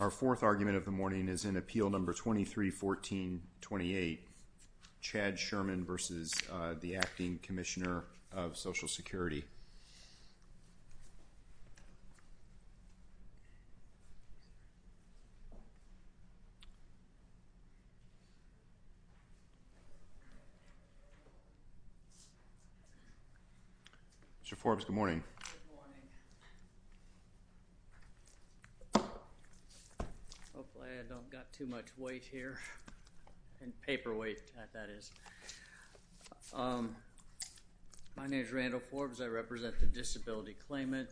Our fourth argument of the morning is in Appeal No. 2314-28, Chad Sherman v. Acting Commissioner of Social Security. Mr. Forbes, good morning. Hopefully I don't have too much weight here. Paperweight, that is. My name is Randall Forbes. I represent the Disability Claimant.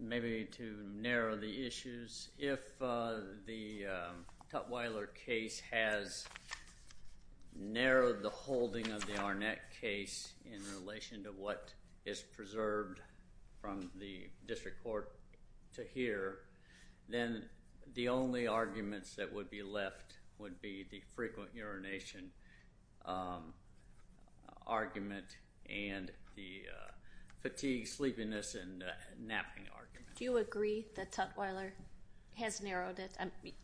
Maybe to narrow the issues, if the Tutwiler case has narrowed the holding of the Arnett case in relation to what is preserved from the District Court to here, then the only arguments that would be left would be the frequent urination argument and the fatigue, sleepiness, and napping argument. Do you agree that Tutwiler has narrowed it?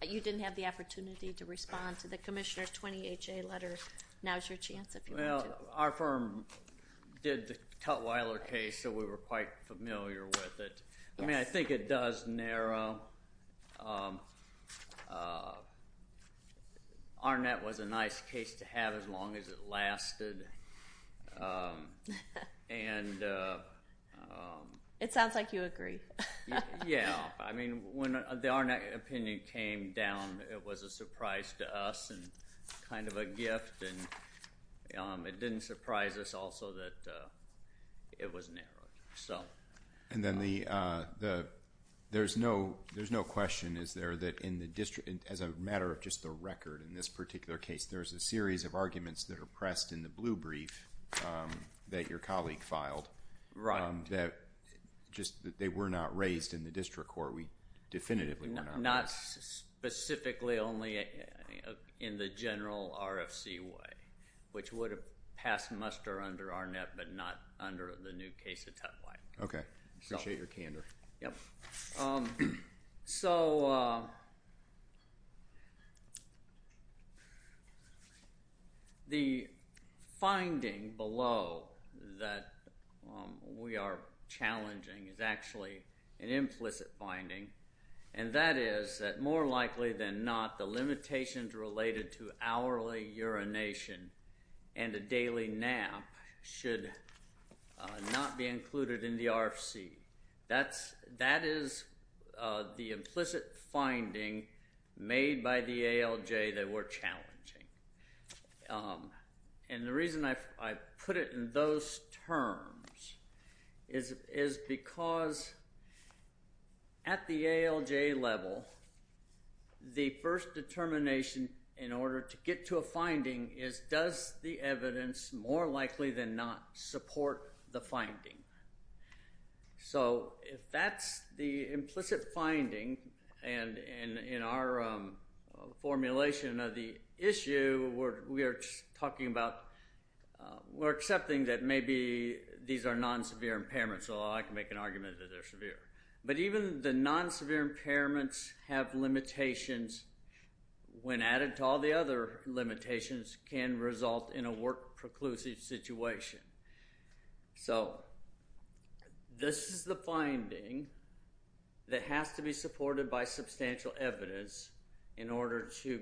You didn't have the opportunity to respond to the Commissioner's 20HA letter. Now is your chance, if you want to. Well, our firm did the Tutwiler case, so we were quite familiar with it. I mean, I think it does narrow. Arnett was a nice case to have as long as it lasted. It sounds like you agree. Yeah. I mean, when the Arnett opinion came down, it was a surprise to us and kind of a gift, and it didn't surprise us also that it was narrowed. And then there's no question, is there, that in the District, as a matter of just the record in this particular case, there's a series of arguments that are pressed in the blue brief that your colleague filed. Right. They were not raised in the District Court. We definitively were not raised. Not specifically, only in the general RFC way, which would have passed muster under Arnett but not under the new case of Tutwiler. Okay. I appreciate your candor. Yep. So the finding below that we are challenging is actually an implicit finding, and that is that more likely than not, the limitations related to hourly urination and a daily nap should not be included in the RFC. That is the implicit finding made by the ALJ that we're challenging. And the reason I put it in those terms is because at the ALJ level, the first determination in order to get to a finding is, does the evidence more likely than not support the finding? So if that's the implicit finding, and in our formulation of the issue, we are talking about we're accepting that maybe these are non-severe impairments, although I can make an argument that they're severe. But even the non-severe impairments have limitations when added to all the other limitations can result in a work-preclusive situation. So this is the finding that has to be supported by substantial evidence in order to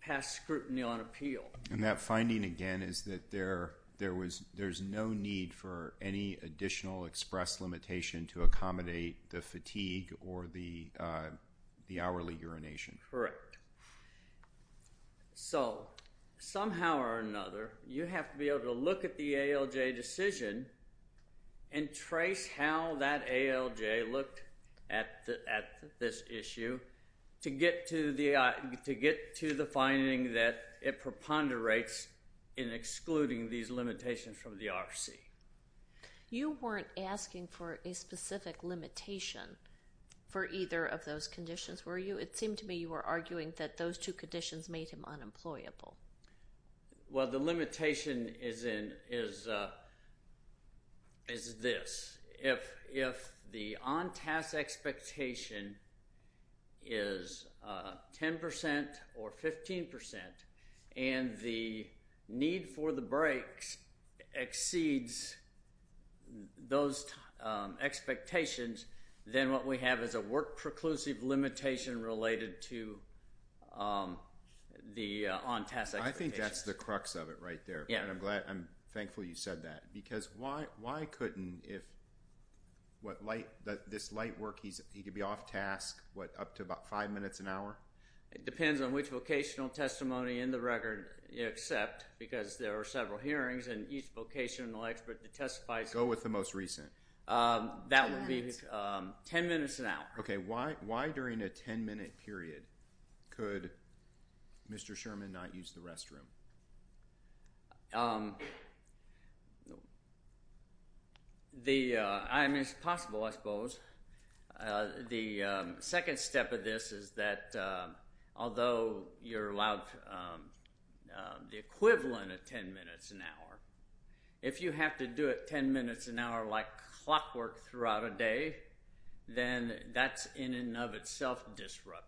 pass scrutiny on appeal. And that finding, again, is that there's no need for any additional express limitation to accommodate the fatigue or the hourly urination. Correct. So somehow or another, you have to be able to look at the ALJ decision and trace how that ALJ looked at this issue to get to the finding that it preponderates in excluding these limitations from the RFC. You weren't asking for a specific limitation for either of those conditions, were you? It seemed to me you were arguing that those two conditions made him unemployable. Well, the limitation is this. If the on-task expectation is 10% or 15% and the need for the breaks exceeds those expectations, then what we have is a work-preclusive limitation related to the on-task expectation. I think that's the crux of it right there, and I'm thankful you said that. Because why couldn't this light work, he could be off-task up to about five minutes an hour? It depends on which vocational testimony in the record you accept, because there are several hearings and each vocational expert that testifies Go with the most recent. That would be 10 minutes an hour. Why during a 10-minute period could Mr. Sherman not use the restroom? It's possible, I suppose. The second step of this is that although you're allowed the equivalent of 10 minutes an hour, if you have to do it 10 minutes an hour like clockwork throughout a day, then that's in and of itself disruptive.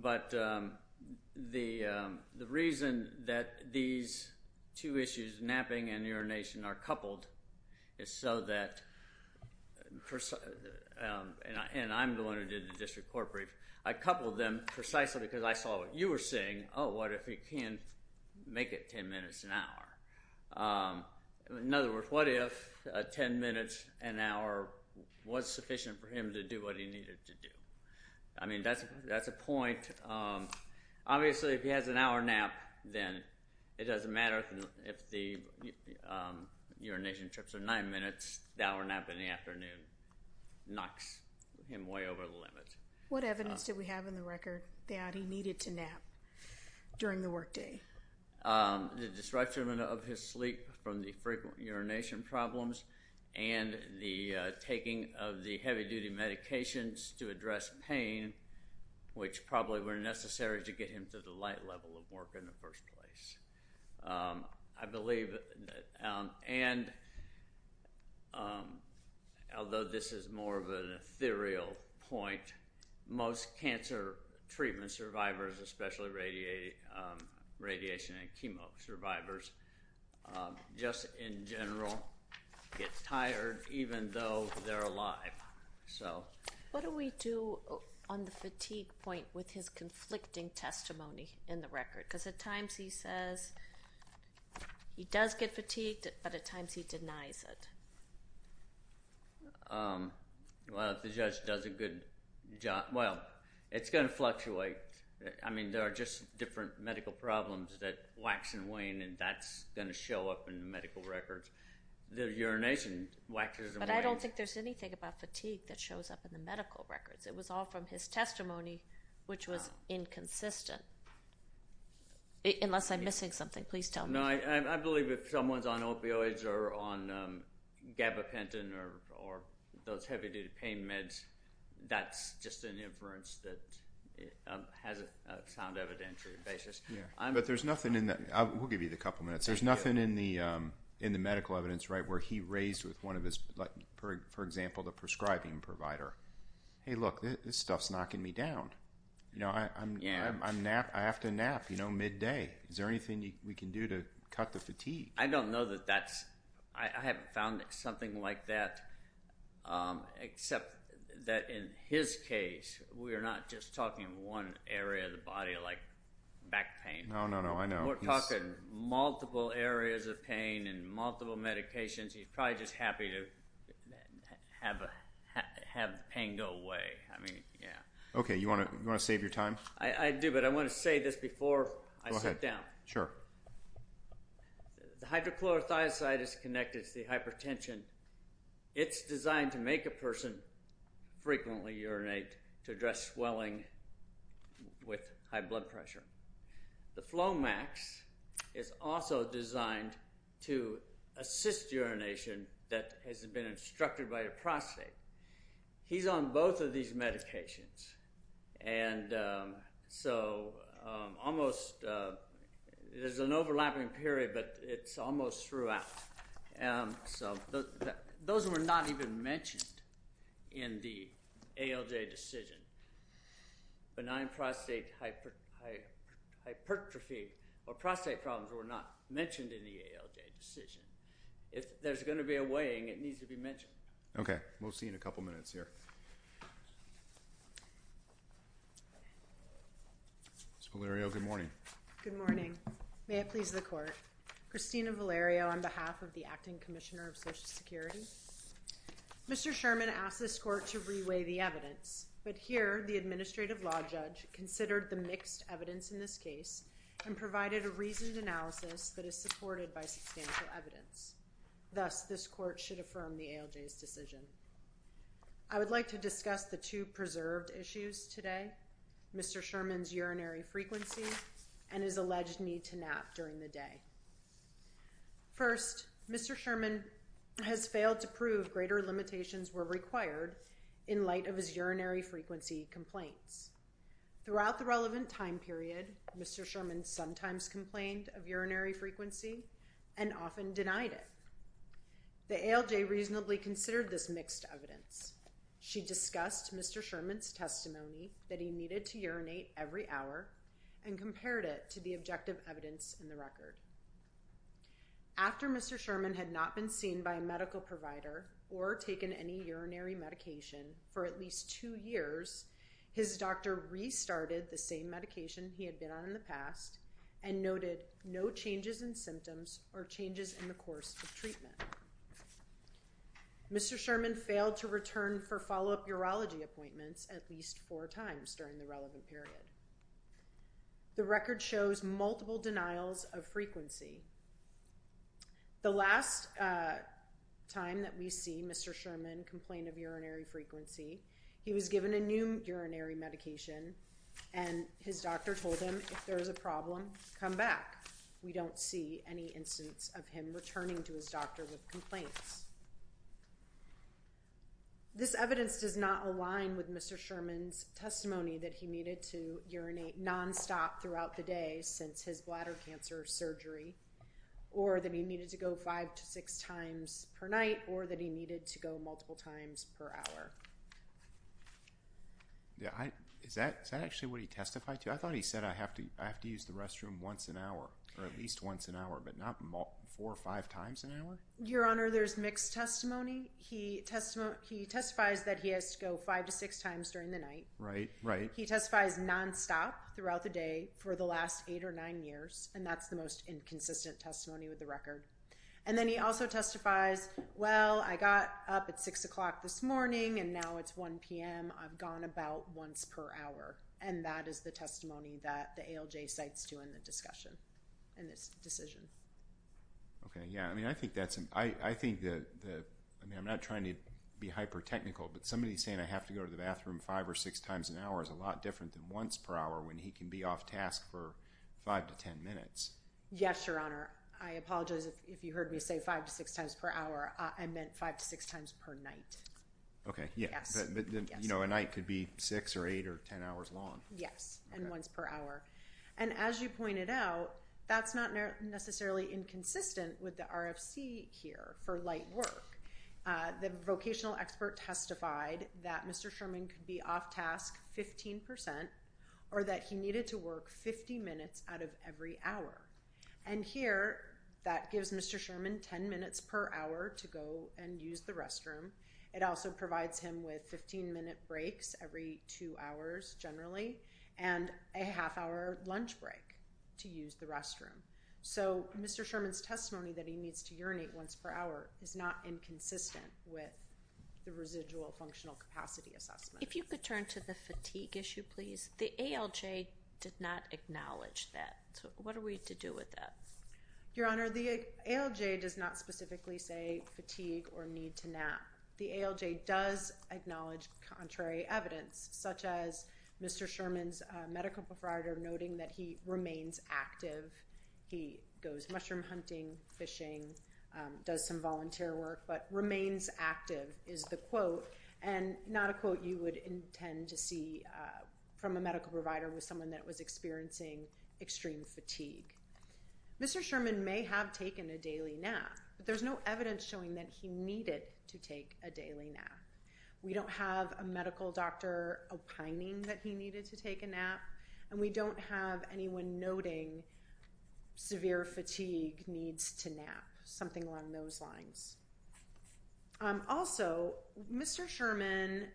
But the reason that these two issues, napping and urination, are coupled is so that and I'm the one who did the district court brief. I coupled them precisely because I saw what you were saying. Oh, what if he can't make it 10 minutes an hour? In other words, what if 10 minutes an hour was sufficient for him to do what he needed to do? I mean, that's a point. Obviously, if he has an hour nap, then it doesn't matter if the urination trips are nine minutes, the hour nap in the afternoon knocks him way over the limit. What evidence do we have in the record that he needed to nap during the workday? The disruption of his sleep from the frequent urination problems and the taking of the heavy-duty medications to address pain, which probably were necessary to get him to the light level of work in the first place. I believe, and although this is more of an ethereal point, most cancer treatment survivors, especially radiation and chemo survivors, just in general get tired even though they're alive. What do we do on the fatigue point with his conflicting testimony in the record? Because at times he says he does get fatigued, but at times he denies it. Well, if the judge does a good job, well, it's going to fluctuate. I mean, there are just different medical problems that wax and wane, and that's going to show up in the medical records. The urination waxes and wanes. But I don't think there's anything about fatigue that shows up in the medical records. It was all from his testimony, which was inconsistent. Unless I'm missing something, please tell me. No, I believe if someone's on opioids or on gabapentin or those heavy-duty pain meds, that's just an inference that has a sound evidentiary basis. But there's nothing in that. We'll give you a couple minutes. There's nothing in the medical evidence where he raised with one of his, for example, the prescribing provider, hey, look, this stuff's knocking me down. You know, I have to nap, you know, midday. Is there anything we can do to cut the fatigue? I don't know that that's—I haven't found something like that, except that in his case we are not just talking one area of the body like back pain. No, no, no, I know. We're talking multiple areas of pain and multiple medications. He's probably just happy to have the pain go away. I mean, yeah. Okay. You want to save your time? I do, but I want to say this before I sit down. Go ahead. Sure. The hydrochlorothiazide is connected to the hypertension. It's designed to make a person frequently urinate to address swelling with high blood pressure. The Flomax is also designed to assist urination that has been instructed by the prostate. He's on both of these medications, and so almost— there's an overlapping period, but it's almost throughout. So those were not even mentioned in the ALJ decision. Benign prostate hypertrophy or prostate problems were not mentioned in the ALJ decision. If there's going to be a weighing, it needs to be mentioned. Okay. We'll see you in a couple minutes here. Ms. Valerio, good morning. Good morning. May it please the Court. Christina Valerio on behalf of the Acting Commissioner of Social Security. Mr. Sherman asked this Court to re-weigh the evidence, but here the administrative law judge considered the mixed evidence in this case and provided a reasoned analysis that is supported by substantial evidence. Thus, this Court should affirm the ALJ's decision. I would like to discuss the two preserved issues today, Mr. Sherman's urinary frequency and his alleged need to nap during the day. First, Mr. Sherman has failed to prove greater limitations were required in light of his urinary frequency complaints. Throughout the relevant time period, Mr. Sherman sometimes complained of urinary frequency and often denied it. The ALJ reasonably considered this mixed evidence. She discussed Mr. Sherman's testimony that he needed to urinate every hour and compared it to the objective evidence in the record. After Mr. Sherman had not been seen by a medical provider or taken any urinary medication for at least two years, his doctor restarted the same medication he had been on in the past and noted no changes in symptoms or changes in the course of treatment. Mr. Sherman failed to return for follow-up urology appointments at least four times during the relevant period. The record shows multiple denials of frequency. The last time that we see Mr. Sherman complain of urinary frequency, he was given a new urinary medication and his doctor told him, if there is a problem, come back. We don't see any instance of him returning to his doctor with complaints. This evidence does not align with Mr. Sherman's testimony that he needed to urinate nonstop throughout the day since his bladder cancer surgery or that he needed to go five to six times per night or that he needed to go multiple times per hour. Is that actually what he testified to? I thought he said I have to use the restroom once an hour or at least once an hour but not four or five times an hour? Your Honor, there's mixed testimony. He testifies that he has to go five to six times during the night. Right, right. He testifies nonstop throughout the day for the last eight or nine years and that's the most inconsistent testimony with the record. And then he also testifies, well, I got up at 6 o'clock this morning and now it's 1 p.m. I've gone about once per hour, and that is the testimony that the ALJ cites to in the discussion, in this decision. Okay, yeah. I mean, I think that's, I mean, I'm not trying to be hyper-technical, but somebody saying I have to go to the bathroom five or six times an hour is a lot different than once per hour when he can be off task for five to ten minutes. Yes, Your Honor. I apologize if you heard me say five to six times per hour. I meant five to six times per night. Okay, yeah. But, you know, a night could be six or eight or ten hours long. Yes, and once per hour. And as you pointed out, that's not necessarily inconsistent with the RFC here for light work. The vocational expert testified that Mr. Sherman could be off task 15% or that he needed to work 50 minutes out of every hour. And here, that gives Mr. Sherman 10 minutes per hour to go and use the restroom. It also provides him with 15-minute breaks every two hours, generally, and a half-hour lunch break to use the restroom. So Mr. Sherman's testimony that he needs to urinate once per hour is not inconsistent with the residual functional capacity assessment. If you could turn to the fatigue issue, please. The ALJ did not acknowledge that. What are we to do with that? Your Honor, the ALJ does not specifically say fatigue or need to nap. The ALJ does acknowledge contrary evidence, such as Mr. Sherman's medical provider noting that he remains active. He goes mushroom hunting, fishing, does some volunteer work, but remains active is the quote, and not a quote you would intend to see from a medical provider with someone that was experiencing extreme fatigue. Mr. Sherman may have taken a daily nap, but there's no evidence showing that he needed to take a daily nap. We don't have a medical doctor opining that he needed to take a nap, and we don't have anyone noting severe fatigue needs to nap, something along those lines. Also, Mr. Sherman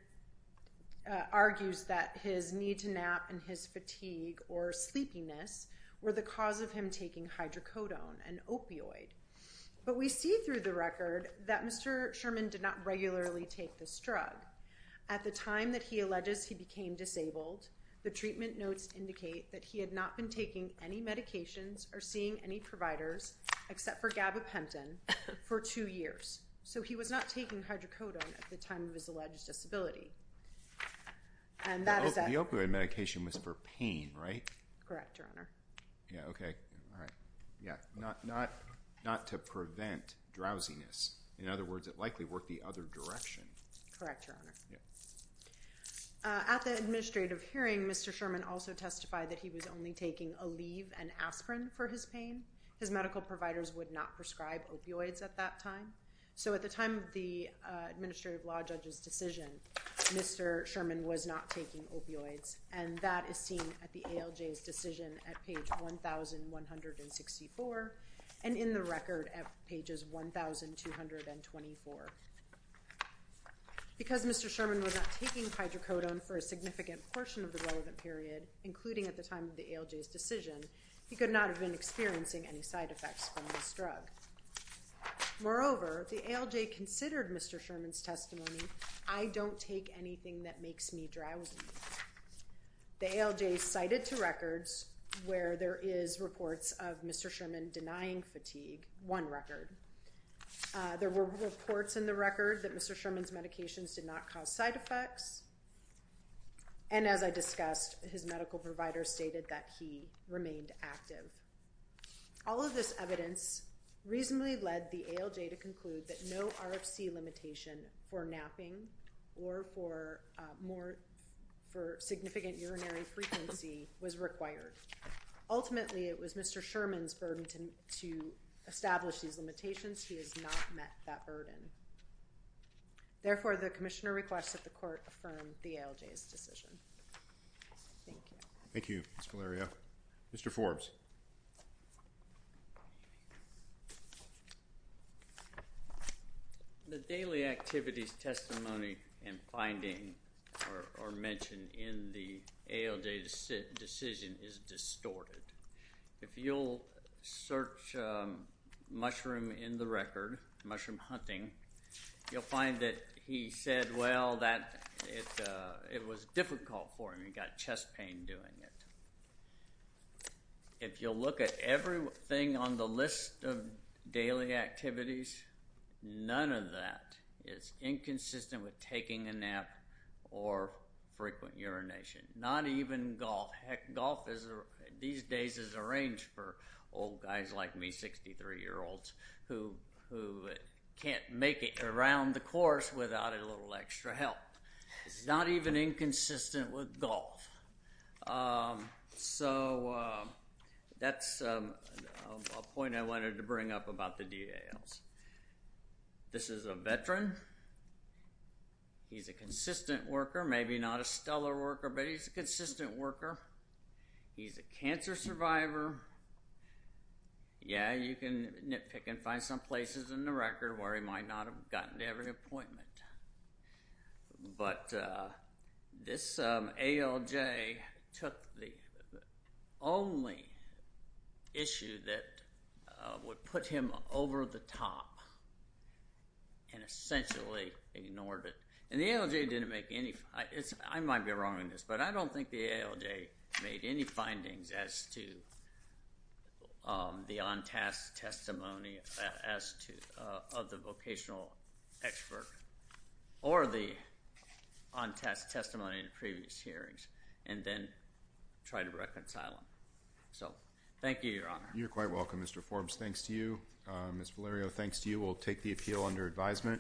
argues that his need to nap and his fatigue or sleepiness were the cause of him taking hydrocodone, an opioid. But we see through the record that Mr. Sherman did not regularly take this drug. At the time that he alleges he became disabled, the treatment notes indicate that he had not been taking any medications or seeing any providers except for gabapentin for two years. So he was not taking hydrocodone at the time of his alleged disability. Correct, Your Honor. Yeah, okay. All right. Yeah, not to prevent drowsiness. In other words, it likely worked the other direction. Correct, Your Honor. Yeah. At the administrative hearing, Mr. Sherman also testified that he was only taking Aleve and aspirin for his pain. His medical providers would not prescribe opioids at that time. So at the time of the administrative law judge's decision, Mr. Sherman was not taking opioids, and that is seen at the ALJ's decision at page 1,164 and in the record at pages 1,224. Because Mr. Sherman was not taking hydrocodone for a significant portion of the relevant period, including at the time of the ALJ's decision, he could not have been experiencing any side effects from this drug. Moreover, the ALJ considered Mr. Sherman's testimony, I don't take anything that makes me drowsy. The ALJ cited two records where there is reports of Mr. Sherman denying fatigue, one record. There were reports in the record that Mr. Sherman's medications did not cause side effects, and as I discussed, his medical providers stated that he remained active. All of this evidence reasonably led the ALJ to conclude that no RFC limitation for napping or for significant urinary frequency was required. Ultimately, it was Mr. Sherman's burden to establish these limitations. He has not met that burden. Therefore, the commissioner requests that the court affirm the ALJ's decision. Thank you. Thank you, Ms. Valerio. Mr. Forbes. The daily activities, testimony, and finding are mentioned in the ALJ decision is distorted. If you'll search mushroom in the record, mushroom hunting, you'll find that he said, well, that it was difficult for him. He got chest pain doing it. If you'll look at everything on the list of daily activities, none of that is inconsistent with taking a nap or frequent urination, not even golf. Heck, golf these days is arranged for old guys like me, 63-year-olds, who can't make it around the course without a little extra help. It's not even inconsistent with golf. So that's a point I wanted to bring up about the DALs. This is a veteran. He's a consistent worker, maybe not a stellar worker, but he's a consistent worker. He's a cancer survivor. Yeah, you can nitpick and find some places in the record where he might not have gotten to every appointment. But this ALJ took the only issue that would put him over the top and essentially ignored it. And the ALJ didn't make any findings. I might be wrong on this, but I don't think the ALJ made any findings as to the on-task testimony of the vocational expert or the on-task testimony in previous hearings and then tried to reconcile them. So thank you, Your Honor. You're quite welcome, Mr. Forbes. Thanks to you. Ms. Valerio, thanks to you. We'll take the appeal under advisement.